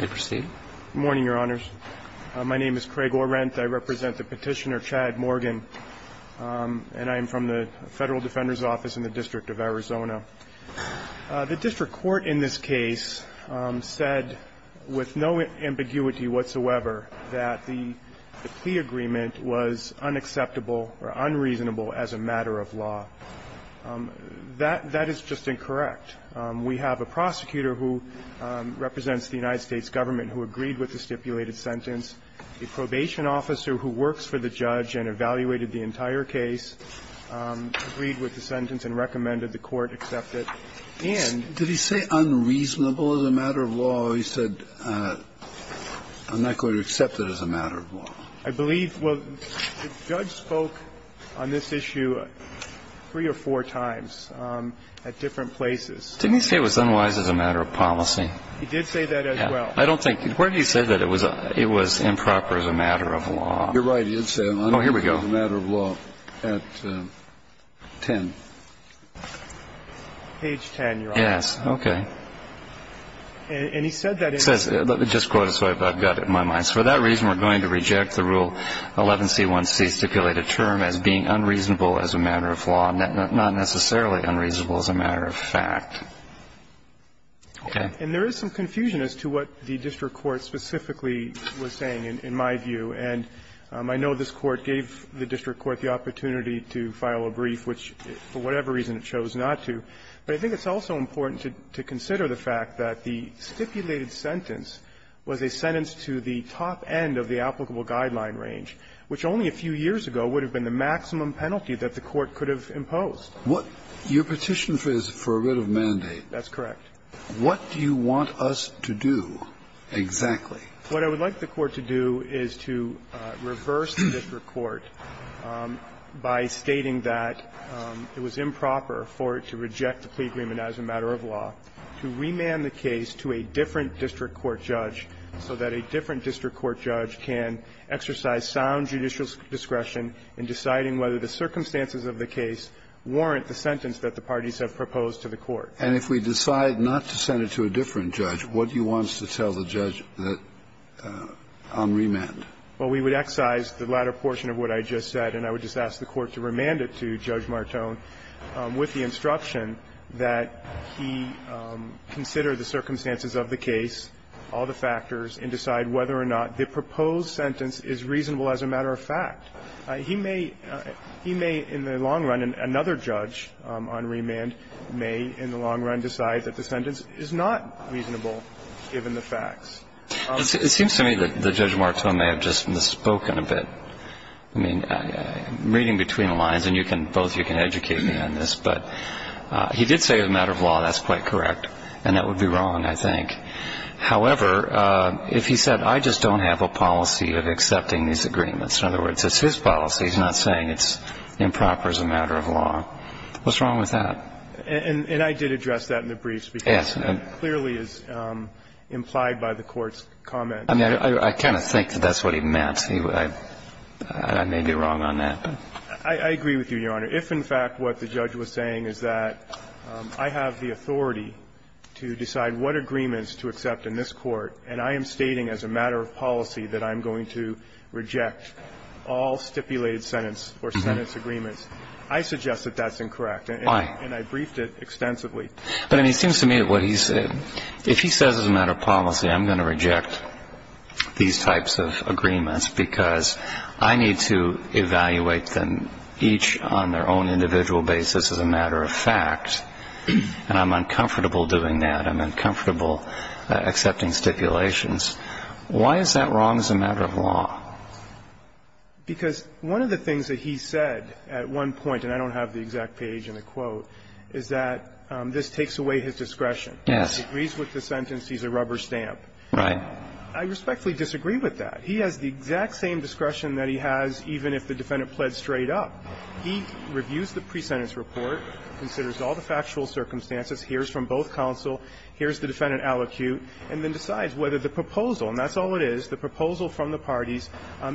Good morning, Your Honors. My name is Craig Orenth. I represent the Petitioner Chad Morgan, and I am from the Federal Defender's Office in the District of Arizona. The District Court in this case said with no ambiguity whatsoever that the plea agreement was unacceptable or unreasonable as a matter of law. That is just incorrect. We have a prosecutor who represents the United States Government who agreed with the stipulated sentence, a probation officer who works for the judge and evaluated the entire case, agreed with the sentence and recommended the court accept it, and Did he say unreasonable as a matter of law, or he said, I'm not going to accept it as a matter of law? I believe, well, the judge spoke on this issue three or four times at different places. Didn't he say it was unwise as a matter of policy? He did say that as well. I don't think. Where did he say that it was improper as a matter of law? You're right. He did say it was improper as a matter of law at 10. Page 10, Your Honors. Yes. Okay. And he said that in Let me just quote it so I've got it in my mind. For that reason, we're going to reject the Rule 11c1c, stipulated term, as being unreasonable as a matter of law, not necessarily unreasonable as a matter of fact. Okay. And there is some confusion as to what the district court specifically was saying, in my view. And I know this Court gave the district court the opportunity to file a brief, which for whatever reason it chose not to. But I think it's also important to consider the fact that the stipulated sentence was a sentence to the top end of the applicable guideline range, which only a few years ago would have been the maximum penalty that the Court could have imposed. Your petition is for a writ of mandate. That's correct. What do you want us to do exactly? What I would like the Court to do is to reverse the district court by stating that it was improper for it to reject the plea agreement as a matter of law, to remand the case to a different district court judge so that a different district court judge can exercise sound judicial discretion in deciding whether the circumstances of the case warrant the sentence that the parties have proposed to the Court. And if we decide not to send it to a different judge, what do you want us to tell the judge on remand? Well, we would excise the latter portion of what I just said, and I would just ask the Court to remand it to Judge Martone with the instruction that he consider the circumstances of the case, all the factors, and decide whether or not the proposed sentence is reasonable as a matter of fact. He may in the long run, another judge on remand may in the long run decide that the sentence is not reasonable given the facts. It seems to me that Judge Martone may have just misspoken a bit. I mean, reading between the lines, and both of you can educate me on this, but he did say as a matter of law that's quite correct. And that would be wrong, I think. However, if he said, I just don't have a policy of accepting these agreements, in other words, it's his policy. He's not saying it's improper as a matter of law. What's wrong with that? And I did address that in the briefs, because that clearly is implied by the Court's comment. I mean, I kind of think that that's what he meant. I may be wrong on that. I agree with you, Your Honor. If in fact what the judge was saying is that I have the authority to decide what agreements to accept in this Court, and I am stating as a matter of policy that I'm going to reject all stipulated sentence or sentence agreements, I suggest that that's incorrect. And I briefed it extensively. But I mean, it seems to me that what he's saying, if he says as a matter of policy, I'm going to reject these types of agreements because I need to evaluate them each on their own individual basis as a matter of fact, and I'm uncomfortable doing that, I'm uncomfortable accepting stipulations, why is that wrong as a matter of law? Because one of the things that he said at one point, and I don't have the exact page in the quote, is that this takes away his discretion. Yes. He agrees with the sentence. He's a rubber stamp. Right. I respectfully disagree with that. He has the exact same discretion that he has even if the defendant pled straight up. He reviews the presentence report, considers all the factual circumstances, hears from both counsel, hears the defendant allocute, and then decides whether the proposal, and that's all it is, the proposal from the parties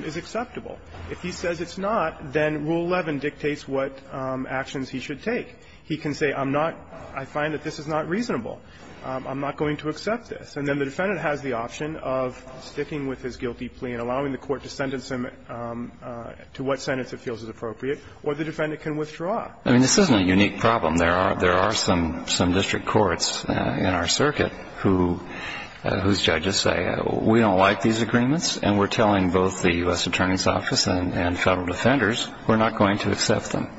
is acceptable. If he says it's not, then Rule 11 dictates what actions he should take. He can say I'm not, I find that this is not reasonable. I'm not going to accept this. And then the defendant has the option of sticking with his guilty plea and allowing the court to sentence him to what sentence it feels is appropriate, or the defendant can withdraw. I mean, this isn't a unique problem. There are some district courts in our circuit whose judges say we don't like these agreements, and we're telling both the U.S. Attorney's Office and Federal defenders we're not going to accept them.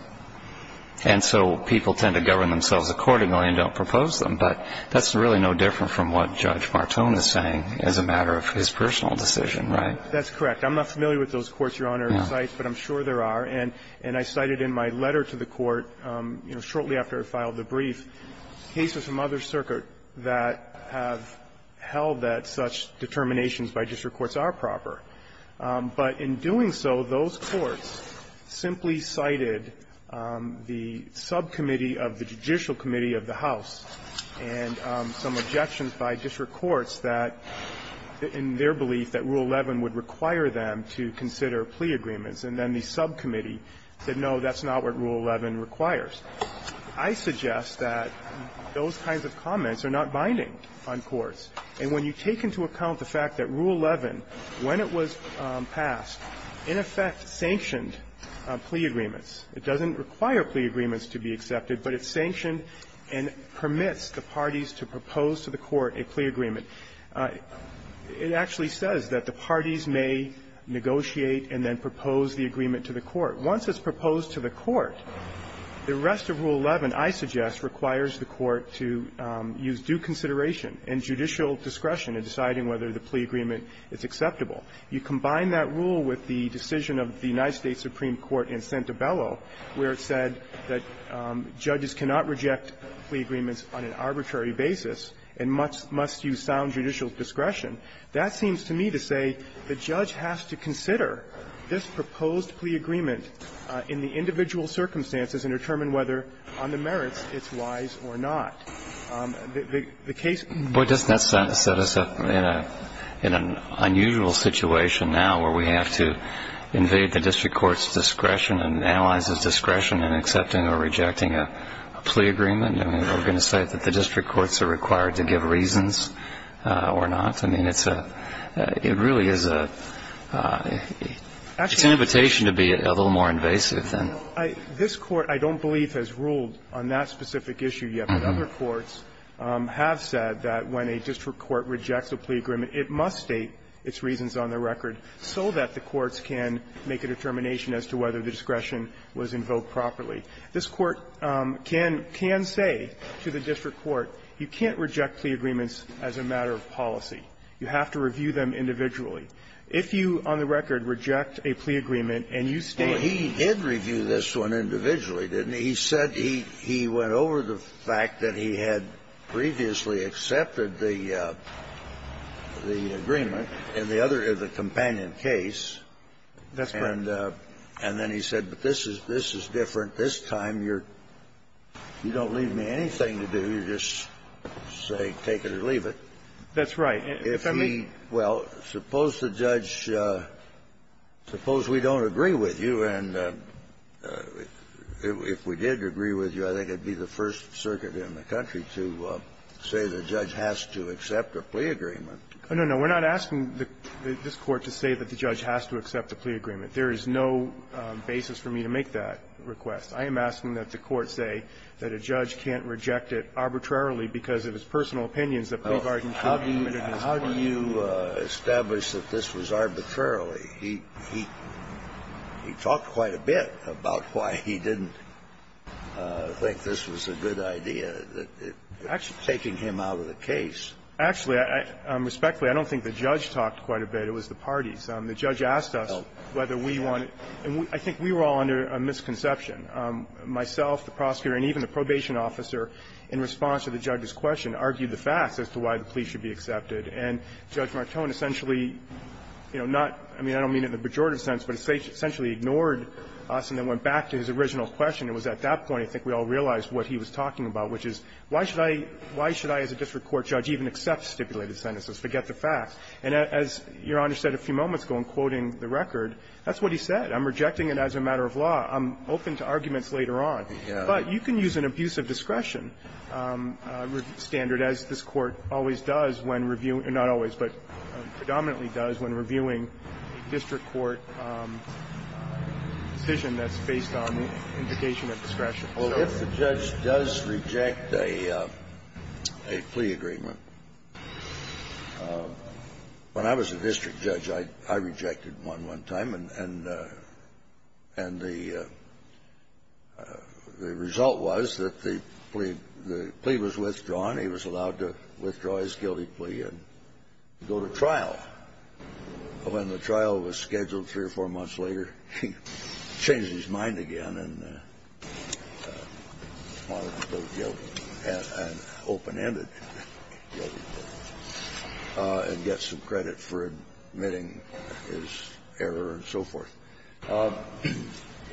And so people tend to govern themselves accordingly and don't propose them. But that's really no different from what Judge Martone is saying as a matter of his personal decision, right? That's correct. I'm not familiar with those courts, Your Honor, and sites, but I'm sure there are. And I cited in my letter to the Court, you know, shortly after I filed the brief, cases from other circuit that have held that such determinations by district courts are proper. But in doing so, those courts simply cited the subcommittee of the judicial committee of the House and some objections by district courts that, in their belief, that Rule 11 would require them to consider plea agreements. And then the subcommittee said, no, that's not what Rule 11 requires. I suggest that those kinds of comments are not binding on courts. And when you take into account the fact that Rule 11, when it was passed, in effect sanctioned plea agreements. It doesn't require plea agreements to be accepted, but it sanctioned and permits the parties to propose to the court a plea agreement. It actually says that the parties may negotiate and then propose the agreement to the court. Once it's proposed to the court, the rest of Rule 11, I suggest, requires the court to use due consideration and judicial discretion in deciding whether the plea agreement is acceptable. You combine that rule with the decision of the United States Supreme Court in Santabello, where it said that judges cannot reject plea agreements on an arbitrary basis and must use sound judicial discretion. That seems to me to say the judge has to consider this proposed plea agreement in the individual circumstances and determine whether, on the merits, it's wise or not. The case goes on. Breyer. Doesn't that set us up in an unusual situation now where we have to invade the district court's discretion and allies' discretion in accepting or rejecting a plea agreement? I mean, are we going to say that the district courts are required to give reasons or not? I mean, it's a, it really is a, it's an invitation to be a little more invasive than. This Court, I don't believe, has ruled on that specific issue yet. But other courts have said that when a district court rejects a plea agreement, it must state its reasons on the record so that the courts can make a determination as to whether the discretion was invoked properly. This Court can say to the district court, you can't reject plea agreements as a matter of policy. You have to review them individually. If you, on the record, reject a plea agreement and you state the reason. Well, he did review this one individually, didn't he? He said he, he went over the fact that he had previously accepted the, the agreement in the other, the companion case. That's correct. And, and then he said, but this is, this is different. This time you're, you don't leave me anything to do. You just say take it or leave it. That's right. If he, well, suppose the judge, suppose we don't agree with you and if, if we did agree with you, I think it would be the First Circuit in the country to say the judge has to accept a plea agreement. No, no, no. We're not asking the, this Court to say that the judge has to accept a plea agreement. There is no basis for me to make that request. I am asking that the Court say that a judge can't reject it arbitrarily because of his personal opinions that plea bargains can't be committed in this Court. How do you, how do you establish that this was arbitrarily? He, he, he talked quite a bit about why he didn't think this was a good idea, that it's taking him out of the case. Actually, I, respectfully, I don't think the judge talked quite a bit. It was the parties. The judge asked us whether we wanted, and I think we were all under a misconception. Myself, the prosecutor, and even the probation officer, in response to the judge's question, argued the facts as to why the plea should be accepted. And Judge Martone essentially, you know, not, I mean, I don't mean in the pejorative sense, but essentially ignored us and then went back to his original question. It was at that point I think we all realized what he was talking about, which is why should I, why should I as a district court judge even accept stipulated sentences, forget the facts? And as Your Honor said a few moments ago in quoting the record, that's what he said. I'm rejecting it as a matter of law. I'm open to arguments later on. But you can use an abuse of discretion standard, as this Court always does when reviewing or not always, but predominantly does when reviewing a district court decision that's based on indication of discretion. So if the judge does reject a plea agreement, when I was a district judge, I rejected one one time, and the result was that the plea was withdrawn. He was allowed to withdraw his guilty plea and go to trial. But when the trial was scheduled three or four months later, he changed his mind again and wanted to go open-ended and get some credit for admitting his error and so forth.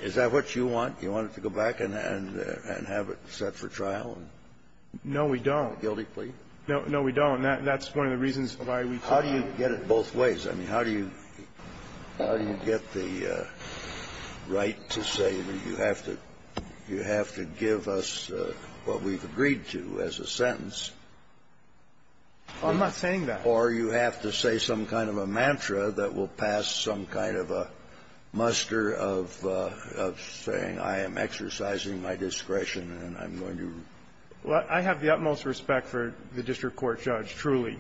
Is that what you want? You want it to go back and have it set for trial? No, we don't. Guilty plea? No, we don't. That's one of the reasons why we took it. How do you get it both ways? I mean, how do you get the right to say that you have to give us what we've agreed to as a sentence? I'm not saying that. Or you have to say some kind of a mantra that will pass some kind of a muster of saying I am exercising my discretion and I'm going to do it. Well, I have the utmost respect for the district court judge, truly.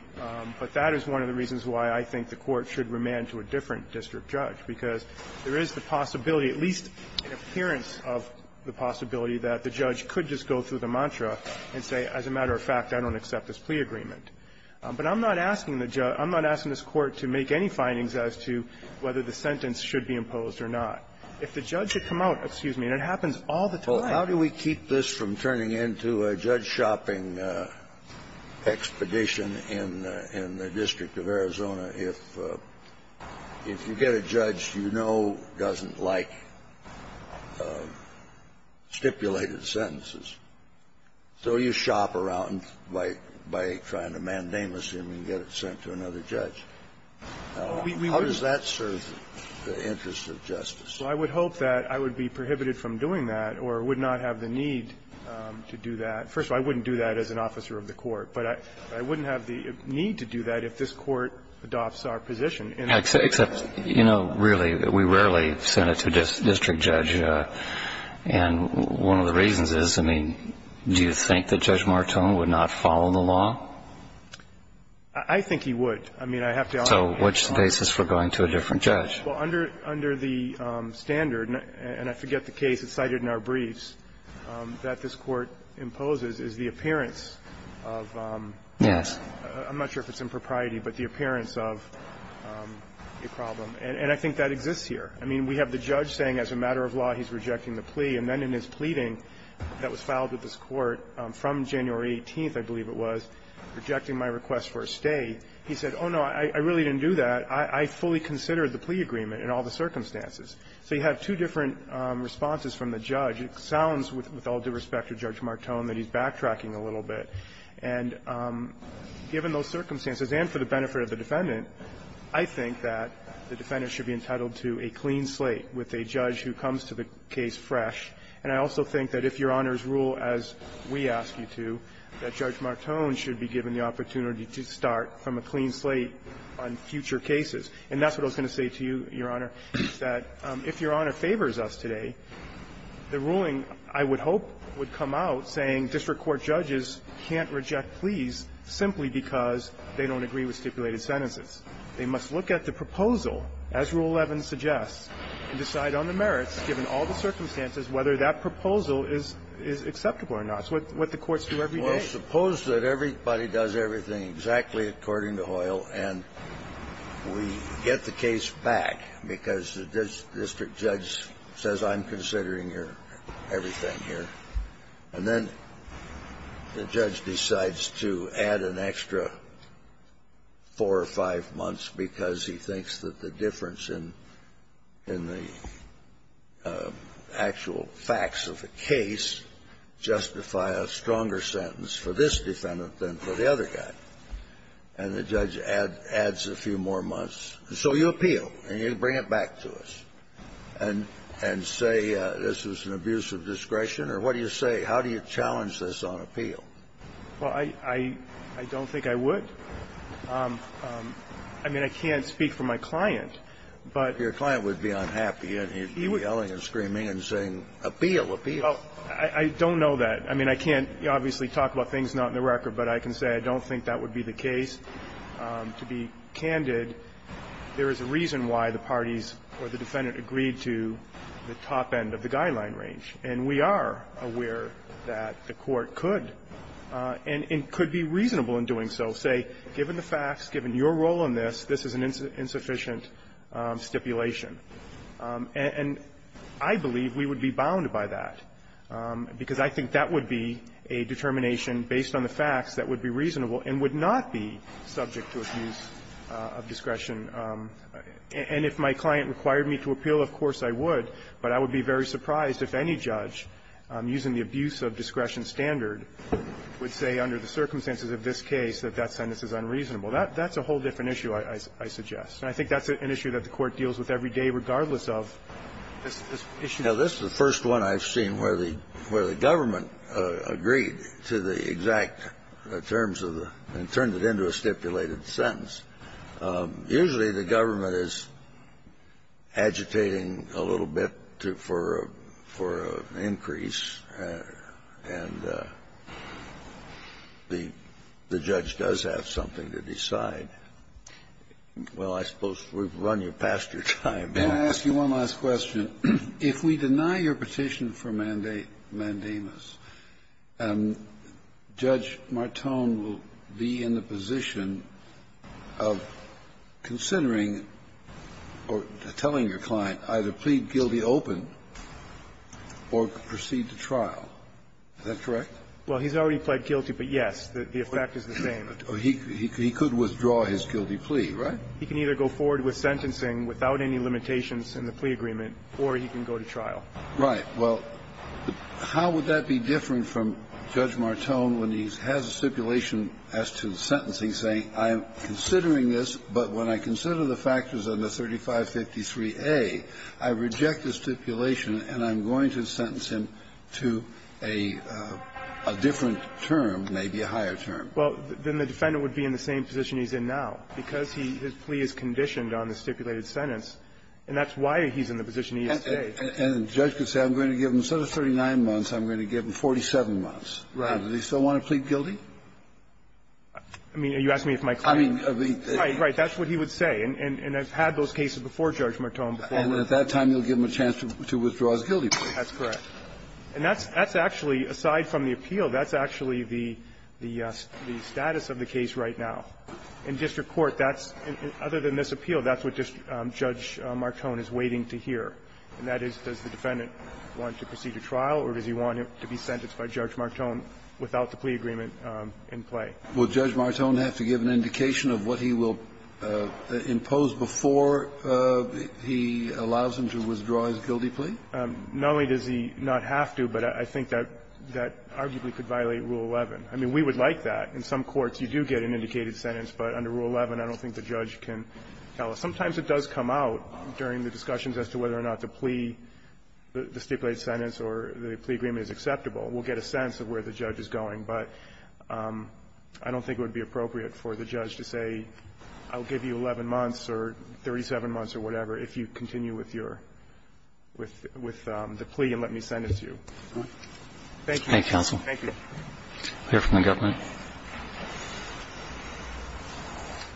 But that is one of the reasons why I think the Court should remand to a different district judge, because there is the possibility, at least in appearance of the possibility, that the judge could just go through the mantra and say, as a matter of fact, I don't accept this plea agreement. But I'm not asking the judge – I'm not asking this Court to make any findings as to whether the sentence should be imposed or not. If the judge had come out, excuse me, and it happens all the time. How do we keep this from turning into a judge-shopping expedition in the district of Arizona if you get a judge you know doesn't like stipulated sentences? So you shop around by trying to mandamus him and get it sent to another judge. How does that serve the interests of justice? Well, I would hope that I would be prohibited from doing that or would not have the need to do that. First of all, I wouldn't do that as an officer of the Court. But I wouldn't have the need to do that if this Court adopts our position. Except, you know, really, we rarely send it to a district judge. And one of the reasons is, I mean, do you think that Judge Martone would not follow the law? I think he would. I mean, I have to ask him. So which basis for going to a different judge? Well, under the standard, and I forget the case. It's cited in our briefs, that this Court imposes is the appearance of... Yes. I'm not sure if it's impropriety, but the appearance of a problem. And I think that exists here. I mean, we have the judge saying as a matter of law he's rejecting the plea. And then in his pleading that was filed with this Court from January 18th, I believe it was, rejecting my request for a stay, he said, oh, no, I really didn't do that. I fully considered the plea agreement in all the circumstances. So you have two different responses from the judge. It sounds, with all due respect to Judge Martone, that he's backtracking a little bit. And given those circumstances, and for the benefit of the defendant, I think that the defendant should be entitled to a clean slate with a judge who comes to the case fresh. And I also think that if Your Honor's rule, as we ask you to, that Judge Martone should be given the opportunity to start from a clean slate on future cases. And that's what I was going to say to you, Your Honor, is that if Your Honor favors us today, the ruling, I would hope, would come out saying district court judges can't reject pleas simply because they don't agree with stipulated sentences. They must look at the proposal, as Rule 11 suggests, and decide on the merits, given all the circumstances, whether that proposal is acceptable or not. It's what the courts do every day. Well, suppose that everybody does everything exactly according to Hoyle, and we get the case back because the district judge says, I'm considering your everything here. And then the judge decides to add an extra four or five months because he thinks that the difference in the actual facts of the case justify a stronger sentence for this defendant than for the other guy. And the judge adds a few more months. So you appeal, and you bring it back to us, and say this is an abuse of discretion. Or what do you say? How do you challenge this on appeal? Well, I don't think I would. I mean, I can't speak for my client, but he would be yelling and screaming and saying, appeal, appeal. I don't know that. I mean, I can't, obviously, talk about things not in the record, but I can say I don't think that would be the case. To be candid, there is a reason why the parties or the defendant agreed to the top end of the guideline range. And we are aware that the Court could, and could be reasonable in doing so, say, given the facts, given your role in this, this is an insufficient stipulation. And I believe we would be bound by that, because I think that would be a determination based on the facts that would be reasonable and would not be subject to abuse of discretion. And if my client required me to appeal, of course I would. But I would be very surprised if any judge, using the abuse of discretion standard, would say under the circumstances of this case that that sentence is unreasonable. That's a whole different issue, I suggest. And I think that's an issue that the Court deals with every day regardless of this issue. Now, this is the first one I've seen where the government agreed to the exact terms of the and turned it into a stipulated sentence. Usually, the government is agitating a little bit for an increase, and the judge does have something to decide. Well, I suppose we've run past your time. Kennedy. Can I ask you one last question? If we deny your petition for mandamus, Judge Martone will be in the position of considering or telling your client either plead guilty open or proceed to trial. Is that correct? Well, he's already pled guilty, but yes, the effect is the same. He could withdraw his guilty plea, right? He can either go forward with sentencing without any limitations in the plea agreement or he can go to trial. Right. Well, how would that be different from Judge Martone when he has a stipulation as to the sentence? He's saying, I'm considering this, but when I consider the factors under 3553A, I reject the stipulation and I'm going to sentence him to a different term, maybe a higher term. Well, then the defendant would be in the same position he's in now because his plea is conditioned on the stipulated sentence, and that's why he's in the position he is today. And the judge could say, I'm going to give him, instead of 39 months, I'm going to give him 47 months. Right. Does he still want to plead guilty? I mean, are you asking me if my client? I mean, the ---- Right. Right. That's what he would say. And I've had those cases before Judge Martone before. And at that time, you'll give him a chance to withdraw his guilty plea. That's correct. And that's actually, aside from the appeal, that's actually the status of the case right now. In district court, that's other than this appeal, that's what Judge Martone is waiting to hear. And that is, does the defendant want to proceed to trial or does he want to be sentenced by Judge Martone without the plea agreement in play? Will Judge Martone have to give an indication of what he will impose before he allows him to withdraw his guilty plea? Not only does he not have to, but I think that arguably could violate Rule 11. I mean, we would like that. In some courts, you do get an indicated sentence. But under Rule 11, I don't think the judge can tell us. Sometimes it does come out during the discussions as to whether or not the plea, the stipulated sentence or the plea agreement is acceptable. We'll get a sense of where the judge is going. But I don't think it would be appropriate for the judge to say, I'll give you 11 months or 37 months or whatever if you continue with your, with the plea and let me send it to you. Thank you. Thank you, counsel. Thank you. Clear from the government.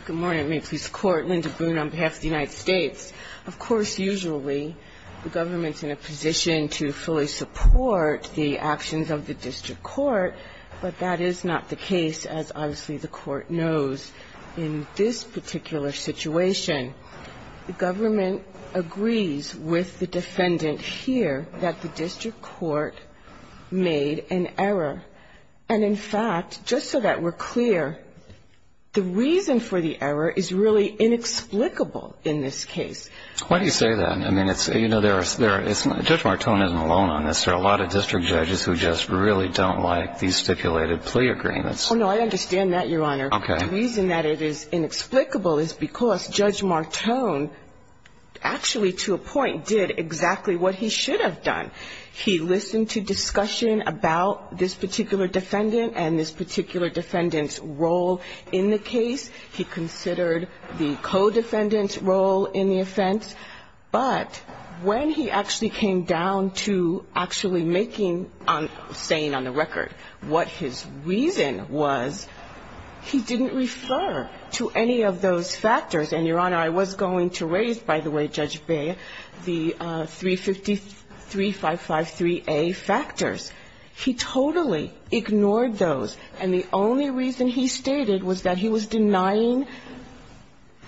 Good morning. May it please the Court. Linda Boone on behalf of the United States. Of course, usually the government's in a position to fully support the actions of the district court, but that is not the case, as obviously the Court knows. In this particular situation, the government agrees with the defendant here that the district court made an error. And in fact, just so that we're clear, the reason for the error is really inexplicable in this case. Why do you say that? I mean, it's, you know, there are, there is, Judge Martone isn't alone on this. There are a lot of district judges who just really don't like these stipulated plea agreements. Oh, no, I understand that, Your Honor. Okay. The reason that it is inexplicable is because Judge Martone actually, to a point, did exactly what he should have done. He listened to discussion about this particular defendant and this particular defendant's role in the case. He considered the co-defendant's role in the offense. But when he actually came down to actually making, on, saying on the record what his reason was, he didn't refer to any of those factors. And, Your Honor, I was going to raise, by the way, Judge Bayh, the 353-553A factors. He totally ignored those. And the only reason he stated was that he was denying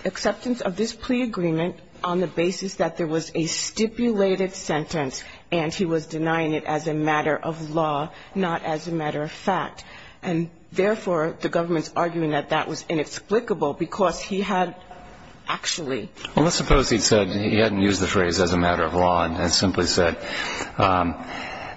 acceptance of this plea agreement on the basis that there was a stipulated sentence and he was denying it as a matter of law, not as a matter of fact. And, therefore, the government's arguing that that was inexplicable because he had actually... Well, let's suppose he'd said he hadn't used the phrase as a matter of law and had simply said, I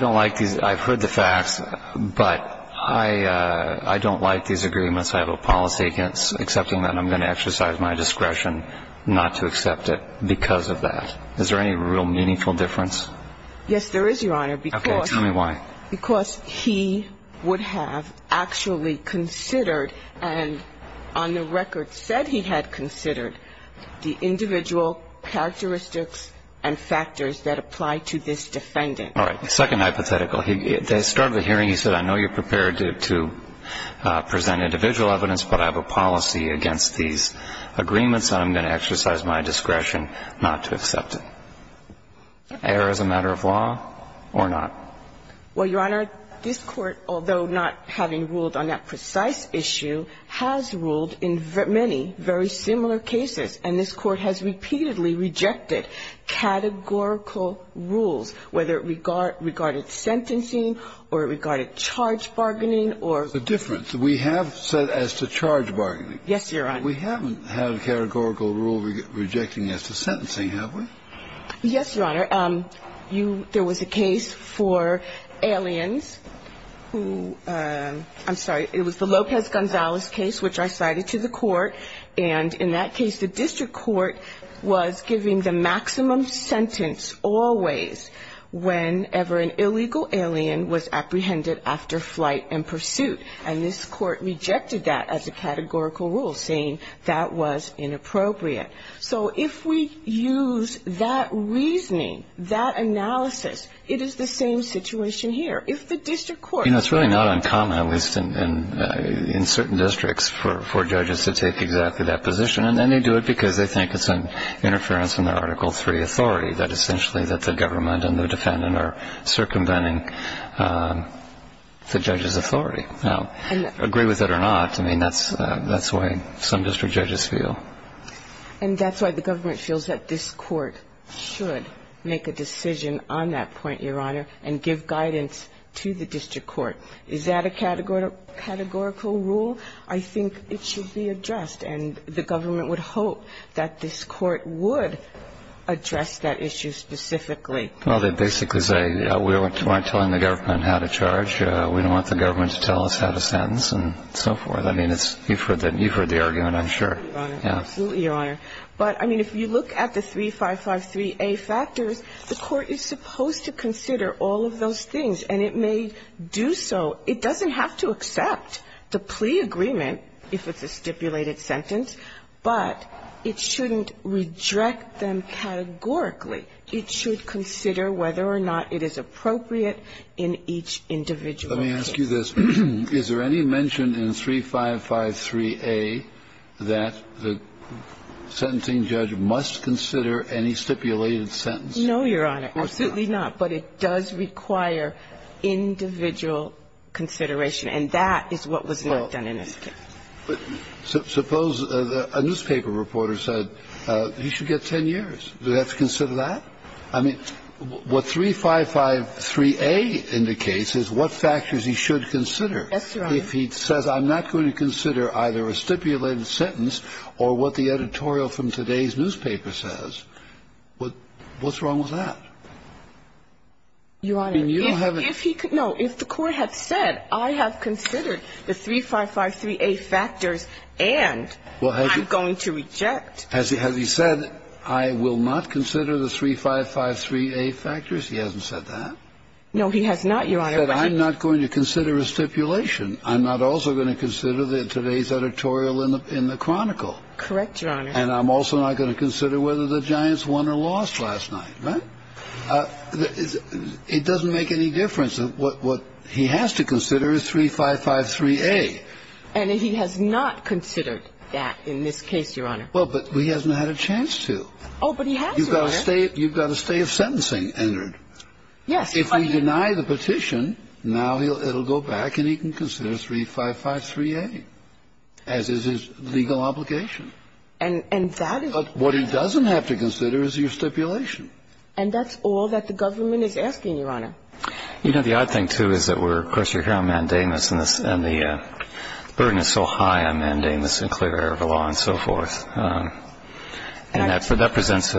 don't like these. I've heard the facts, but I don't like these agreements. I have a policy against accepting them. I'm going to exercise my discretion not to accept it because of that. Is there any real meaningful difference? Yes, there is, Your Honor, because... Okay, tell me why. Because he would have actually considered, and on the record said he had considered, the individual characteristics and factors that apply to this defendant. All right, the second hypothetical. At the start of the hearing, he said, I know you're prepared to present individual evidence, but I have a policy against these agreements, and I'm going to exercise my discretion not to accept it. Error as a matter of law or not? Well, Your Honor, this Court, although not having ruled on that precise issue, has ruled in many very similar cases, and this Court has repeatedly rejected categorical rules, whether it regarded sentencing or regarded charge bargaining or... The difference. We have set as to charge bargaining. Yes, Your Honor. We haven't had a categorical rule rejecting as to sentencing, have we? Yes, Your Honor. There was a case for aliens who... I'm sorry, it was the Lopez-Gonzalez case, which I cited to the Court, and in that case, the District Court was giving the maximum sentence always whenever an illegal alien was apprehended after flight and pursuit, and this Court rejected that as a categorical rule, saying that was inappropriate. So if we use that reasoning, that analysis, it is the same situation here. If the District Court... You know, it's really not uncommon, at least in certain districts, for judges to take exactly that position, and then they do it because they think it's an interference in their Article III authority, that essentially that the government and the defendant are circumventing the judge's authority. Now, agree with it or not, I mean, that's the way some district judges feel. And that's why the government feels that this Court should make a decision on that point, Your Honor, and give guidance to the District Court. Is that a categorical rule? I think it should be addressed, and the government would hope that this Court would address that issue specifically. Well, they basically say, you know, we aren't telling the government how to charge, we don't want the government to tell us how to sentence, and so forth. I mean, you've heard the argument, I'm sure. Absolutely, Your Honor. But, I mean, if you look at the 3553A factors, the Court is supposed to consider all of those things, and it may do so. It doesn't have to accept the plea agreement if it's a stipulated sentence, but it shouldn't reject them categorically. It should consider whether or not it is appropriate in each individual case. Let me ask you this. Is there any mention in 3553A that the sentencing judge must consider any stipulated sentence? No, Your Honor, absolutely not. But it does require individual consideration, and that is what was not done in this case. Suppose a newspaper reporter said, you should get 10 years. Do they have to consider that? I mean, what 3553A indicates is what factors he should consider. Yes, Your Honor. If he says, I'm not going to consider either a stipulated sentence or what the editorial from today's newspaper says, what's wrong with that? Your Honor, if he could, no, if the Court had said, I have considered the 3553A factors and I'm going to reject. Has he said, I will not consider the 3553A factors? He hasn't said that. No, he has not, Your Honor. He said, I'm not going to consider a stipulation. I'm not also going to consider today's editorial in the Chronicle. Correct, Your Honor. And I'm also not going to consider whether the Giants won or lost last night, right? It doesn't make any difference. What he has to consider is 3553A. And he has not considered that in this case, Your Honor. Well, but he hasn't had a chance to. Oh, but he has, Your Honor. You've got a stay of sentencing entered. Yes. If we deny the petition, now it'll go back and he can consider 3553A, as is his legal obligation. And that is what he has to consider. But what he doesn't have to consider is your stipulation. And that's all that the government is asking, Your Honor. You know, the odd thing, too, is that we're, of course, you're here on mandamus, and the burden is so high on mandamus and clear air of the law and so forth. And that presents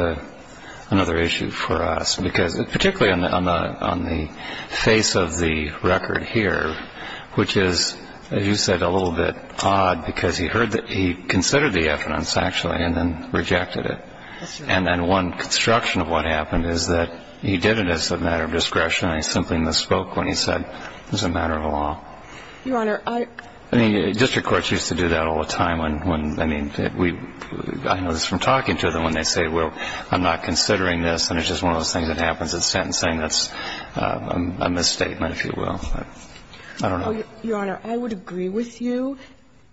another issue for us, because particularly on the face of the record here, which is, as you said, a little bit odd, because he heard that he considered the evidence, actually, and then rejected it. And then one construction of what happened is that he did it as a matter of discretion. I simply misspoke when he said it was a matter of law. Your Honor, I mean, district courts used to do that all the time when, I mean, we I know this from talking to them when they say, well, I'm not considering this. And it's just one of those things that happens at sentencing that's a misstatement, if you will. I don't know. Your Honor, I would agree with you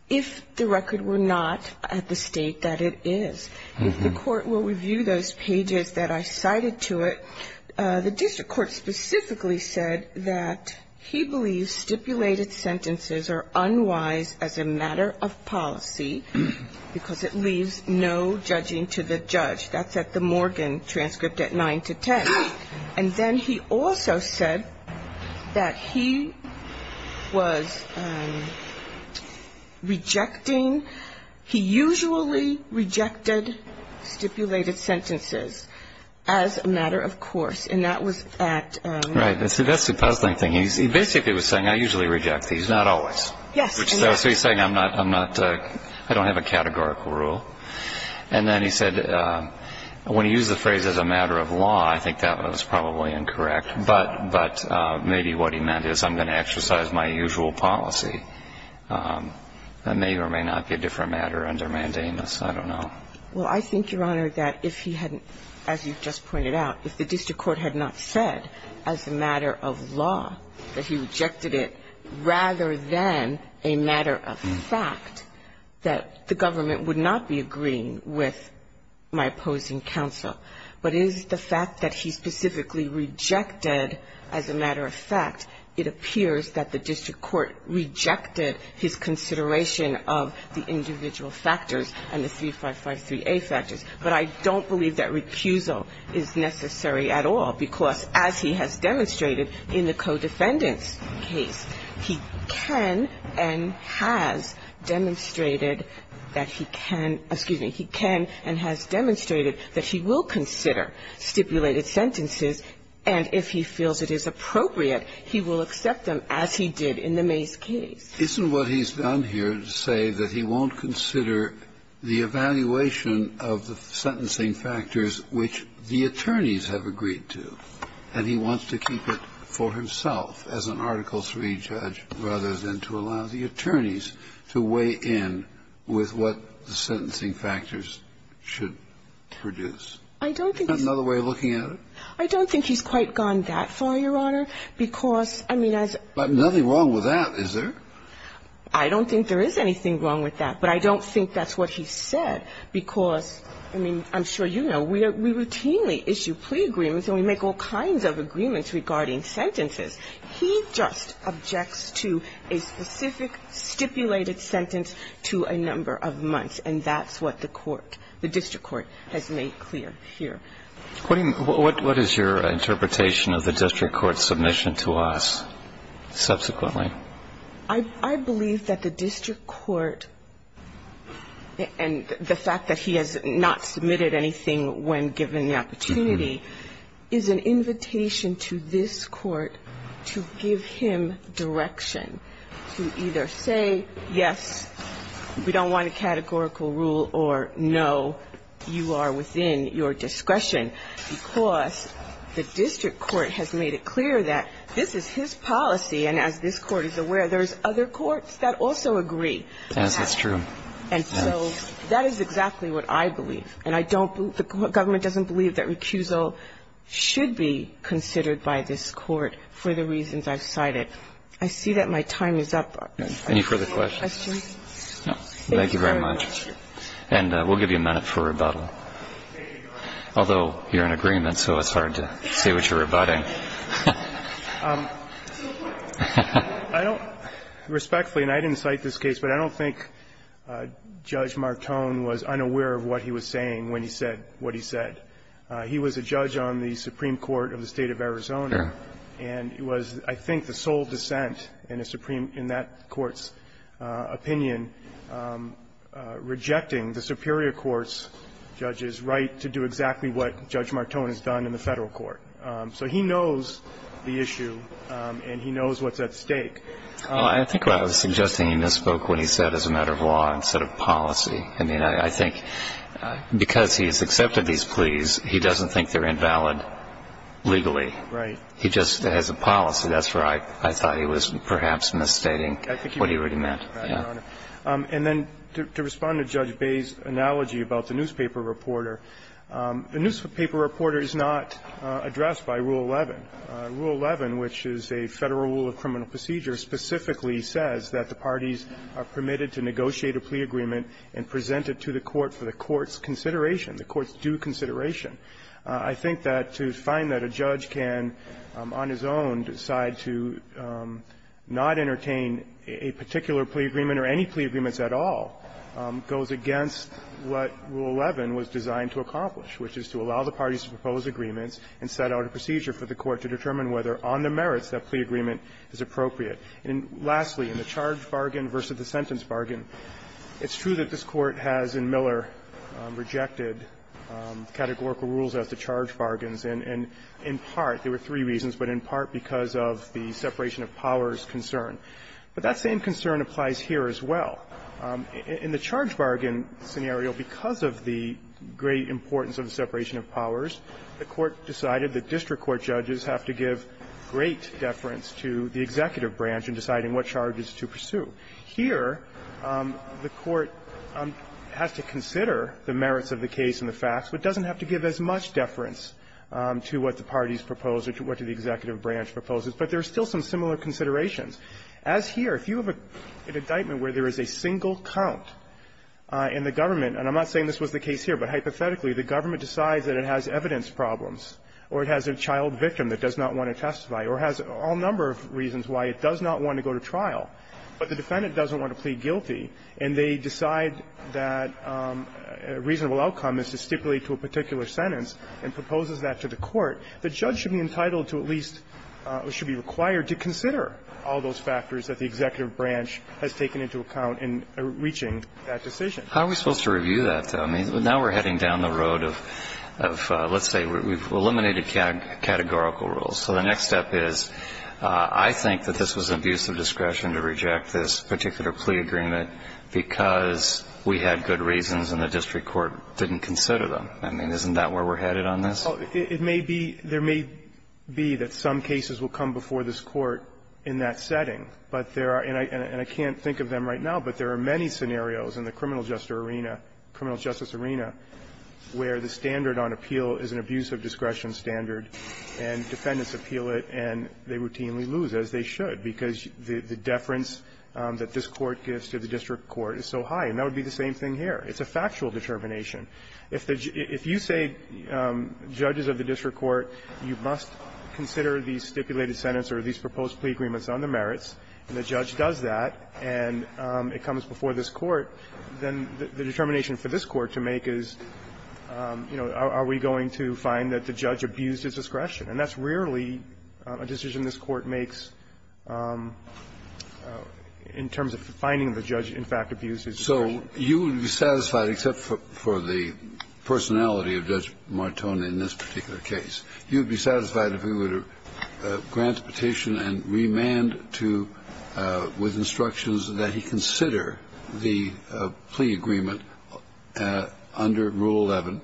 if the record were not at the state that it is. If the court will review those pages that I cited to it, the district court specifically said that he believes stipulated sentences are unwise as a matter of policy, because it leaves no judging to the judge. That's at the Morgan transcript at 9 to 10. And then he also said that he was rejecting, he usually rejected stipulated sentences as a matter of course. And that was at... Right. That's the puzzling thing. He basically was saying, I usually reject these, not always. Yes. So he's saying I'm not, I don't have a categorical rule. And then he said, when he used the phrase as a matter of law, I think that was probably incorrect. But maybe what he meant is I'm going to exercise my usual policy. That may or may not be a different matter under mandamus. I don't know. Well, I think, Your Honor, that if he hadn't, as you just pointed out, if the district court had not said, as a matter of law, that he rejected it, rather than a matter of fact, that the government would not be agreeing with my opposing counsel. But is the fact that he specifically rejected as a matter of fact, it appears that the district court rejected his consideration of the individual factors and the 3553A factors. But I don't believe that recusal is necessary at all. Because as he has demonstrated in the co-defendant's case, he can and has demonstrated that he can, excuse me, he can and has demonstrated that he will consider stipulated sentences. And if he feels it is appropriate, he will accept them as he did in the May's case. Isn't what he's done here to say that he won't consider the evaluation of the sentencing factors which the attorneys have agreed to, and he wants to keep it for himself as an Article III judge, rather than to allow the attorneys to weigh in with what the sentencing factors should produce? I don't think he's quite gone that far, Your Honor, because, I mean, as But nothing wrong with that, is there? I don't think there is anything wrong with that. But I don't think that's what he said. Because, I mean, I'm sure you know, we routinely issue plea agreements, and we make all kinds of agreements regarding sentences. He just objects to a specific stipulated sentence to a number of months. And that's what the court, the district court, has made clear here. What is your interpretation of the district court's submission to us subsequently? I believe that the district court, and the fact that he has not submitted anything when given the opportunity, is an invitation to this court to give him direction to either say, yes, we don't want a categorical rule, or no, you are within your discretion, because the district court has made it clear that this is his policy, and as this court is aware, there's other courts that also agree. Yes, that's true. And so that is exactly what I believe. And I don't believe, the government doesn't believe that recusal should be considered by this court for the reasons I've cited. I see that my time is up. Any further questions? Thank you very much. And we'll give you a minute for rebuttal. Although you're in agreement, so it's hard to say what you're rebutting. I don't respectfully, and I didn't cite this case, but I don't think Judge Martone was unaware of what he was saying when he said what he said. He was a judge on the Supreme Court of the State of Arizona, and he was, I think, the sole dissent in a Supreme – in that court's opinion, rejecting the superior court's judge's right to do exactly what Judge Martone has done in the Federal Court. So he knows the issue, and he knows what's at stake. I think I was suggesting he misspoke when he said, as a matter of law, instead of policy. I mean, I think because he's accepted these pleas, he doesn't think they're invalid legally. Right. He just has a policy. That's where I thought he was perhaps misstating what he already meant. And then to respond to Judge Baye's analogy about the newspaper reporter, the newspaper reporter is addressed by Rule 11. Rule 11, which is a Federal rule of criminal procedure, specifically says that the parties are permitted to negotiate a plea agreement and present it to the court for the court's consideration, the court's due consideration. I think that to find that a judge can, on his own, decide to not entertain a particular plea agreement or any plea agreements at all goes against what Rule 11 was designed to accomplish, which is to allow the parties to propose agreements and set out a procedure for the court to determine whether, on the merits, that plea agreement is appropriate. And lastly, in the charge bargain versus the sentence bargain, it's true that this Court has in Miller rejected categorical rules as the charge bargains, and in part they were three reasons, but in part because of the separation of powers concern. But that same concern applies here as well. In the charge bargain scenario, because of the great importance of the separation of powers, the Court decided that district court judges have to give great deference to the executive branch in deciding what charges to pursue. Here, the Court has to consider the merits of the case and the facts, but doesn't have to give as much deference to what the parties propose or to what the executive branch proposes. But there are still some similar considerations. As here, if you have an indictment where there is a single count, and the government – and I'm not saying this was the case here, but hypothetically, the government decides that it has evidence problems or it has a child victim that does not want to testify or has all number of reasons why it does not want to go to trial, but the defendant doesn't want to plead guilty, and they decide that a reasonable outcome is to stipulate to a particular sentence and proposes that to the court, the judge should be entitled to at least or should be required to consider all those factors that the executive branch has taken into account in reaching that decision. How are we supposed to review that, though? I mean, now we're heading down the road of, let's say, we've eliminated categorical rules. So the next step is, I think that this was abuse of discretion to reject this particular plea agreement because we had good reasons and the district court didn't consider them. I mean, isn't that where we're headed on this? It may be – there may be that some cases will come before this Court in that setting. But there are – and I can't think of them right now, but there are many scenarios in the criminal justice arena where the standard on appeal is an abuse of discretion standard, and defendants appeal it, and they routinely lose, as they should, because the deference that this Court gives to the district court is so high, and that would be the same thing here. It's a factual determination. If the – if you say, judges of the district court, you must consider these stipulated sentence or these proposed plea agreements on the merits, and the judge does that, and it comes before this Court, then the determination for this Court to make is, you know, are we going to find that the judge abused his discretion? And that's rarely a decision this Court makes in terms of finding the judge, in fact, abused his discretion. So you would be satisfied, except for the personality of Judge Martone in this particular case, you would be satisfied if he were to grant a petition and remand to – with instructions that he consider the plea agreement under Rule 11,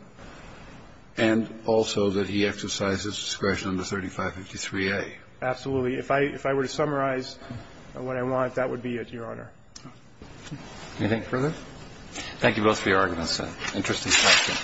and also that he exercises discretion under 3553A? Absolutely. If I – if I were to summarize what I want, that would be it, Your Honor. Anything further? Thank you both for your arguments, sir. Interesting discussion.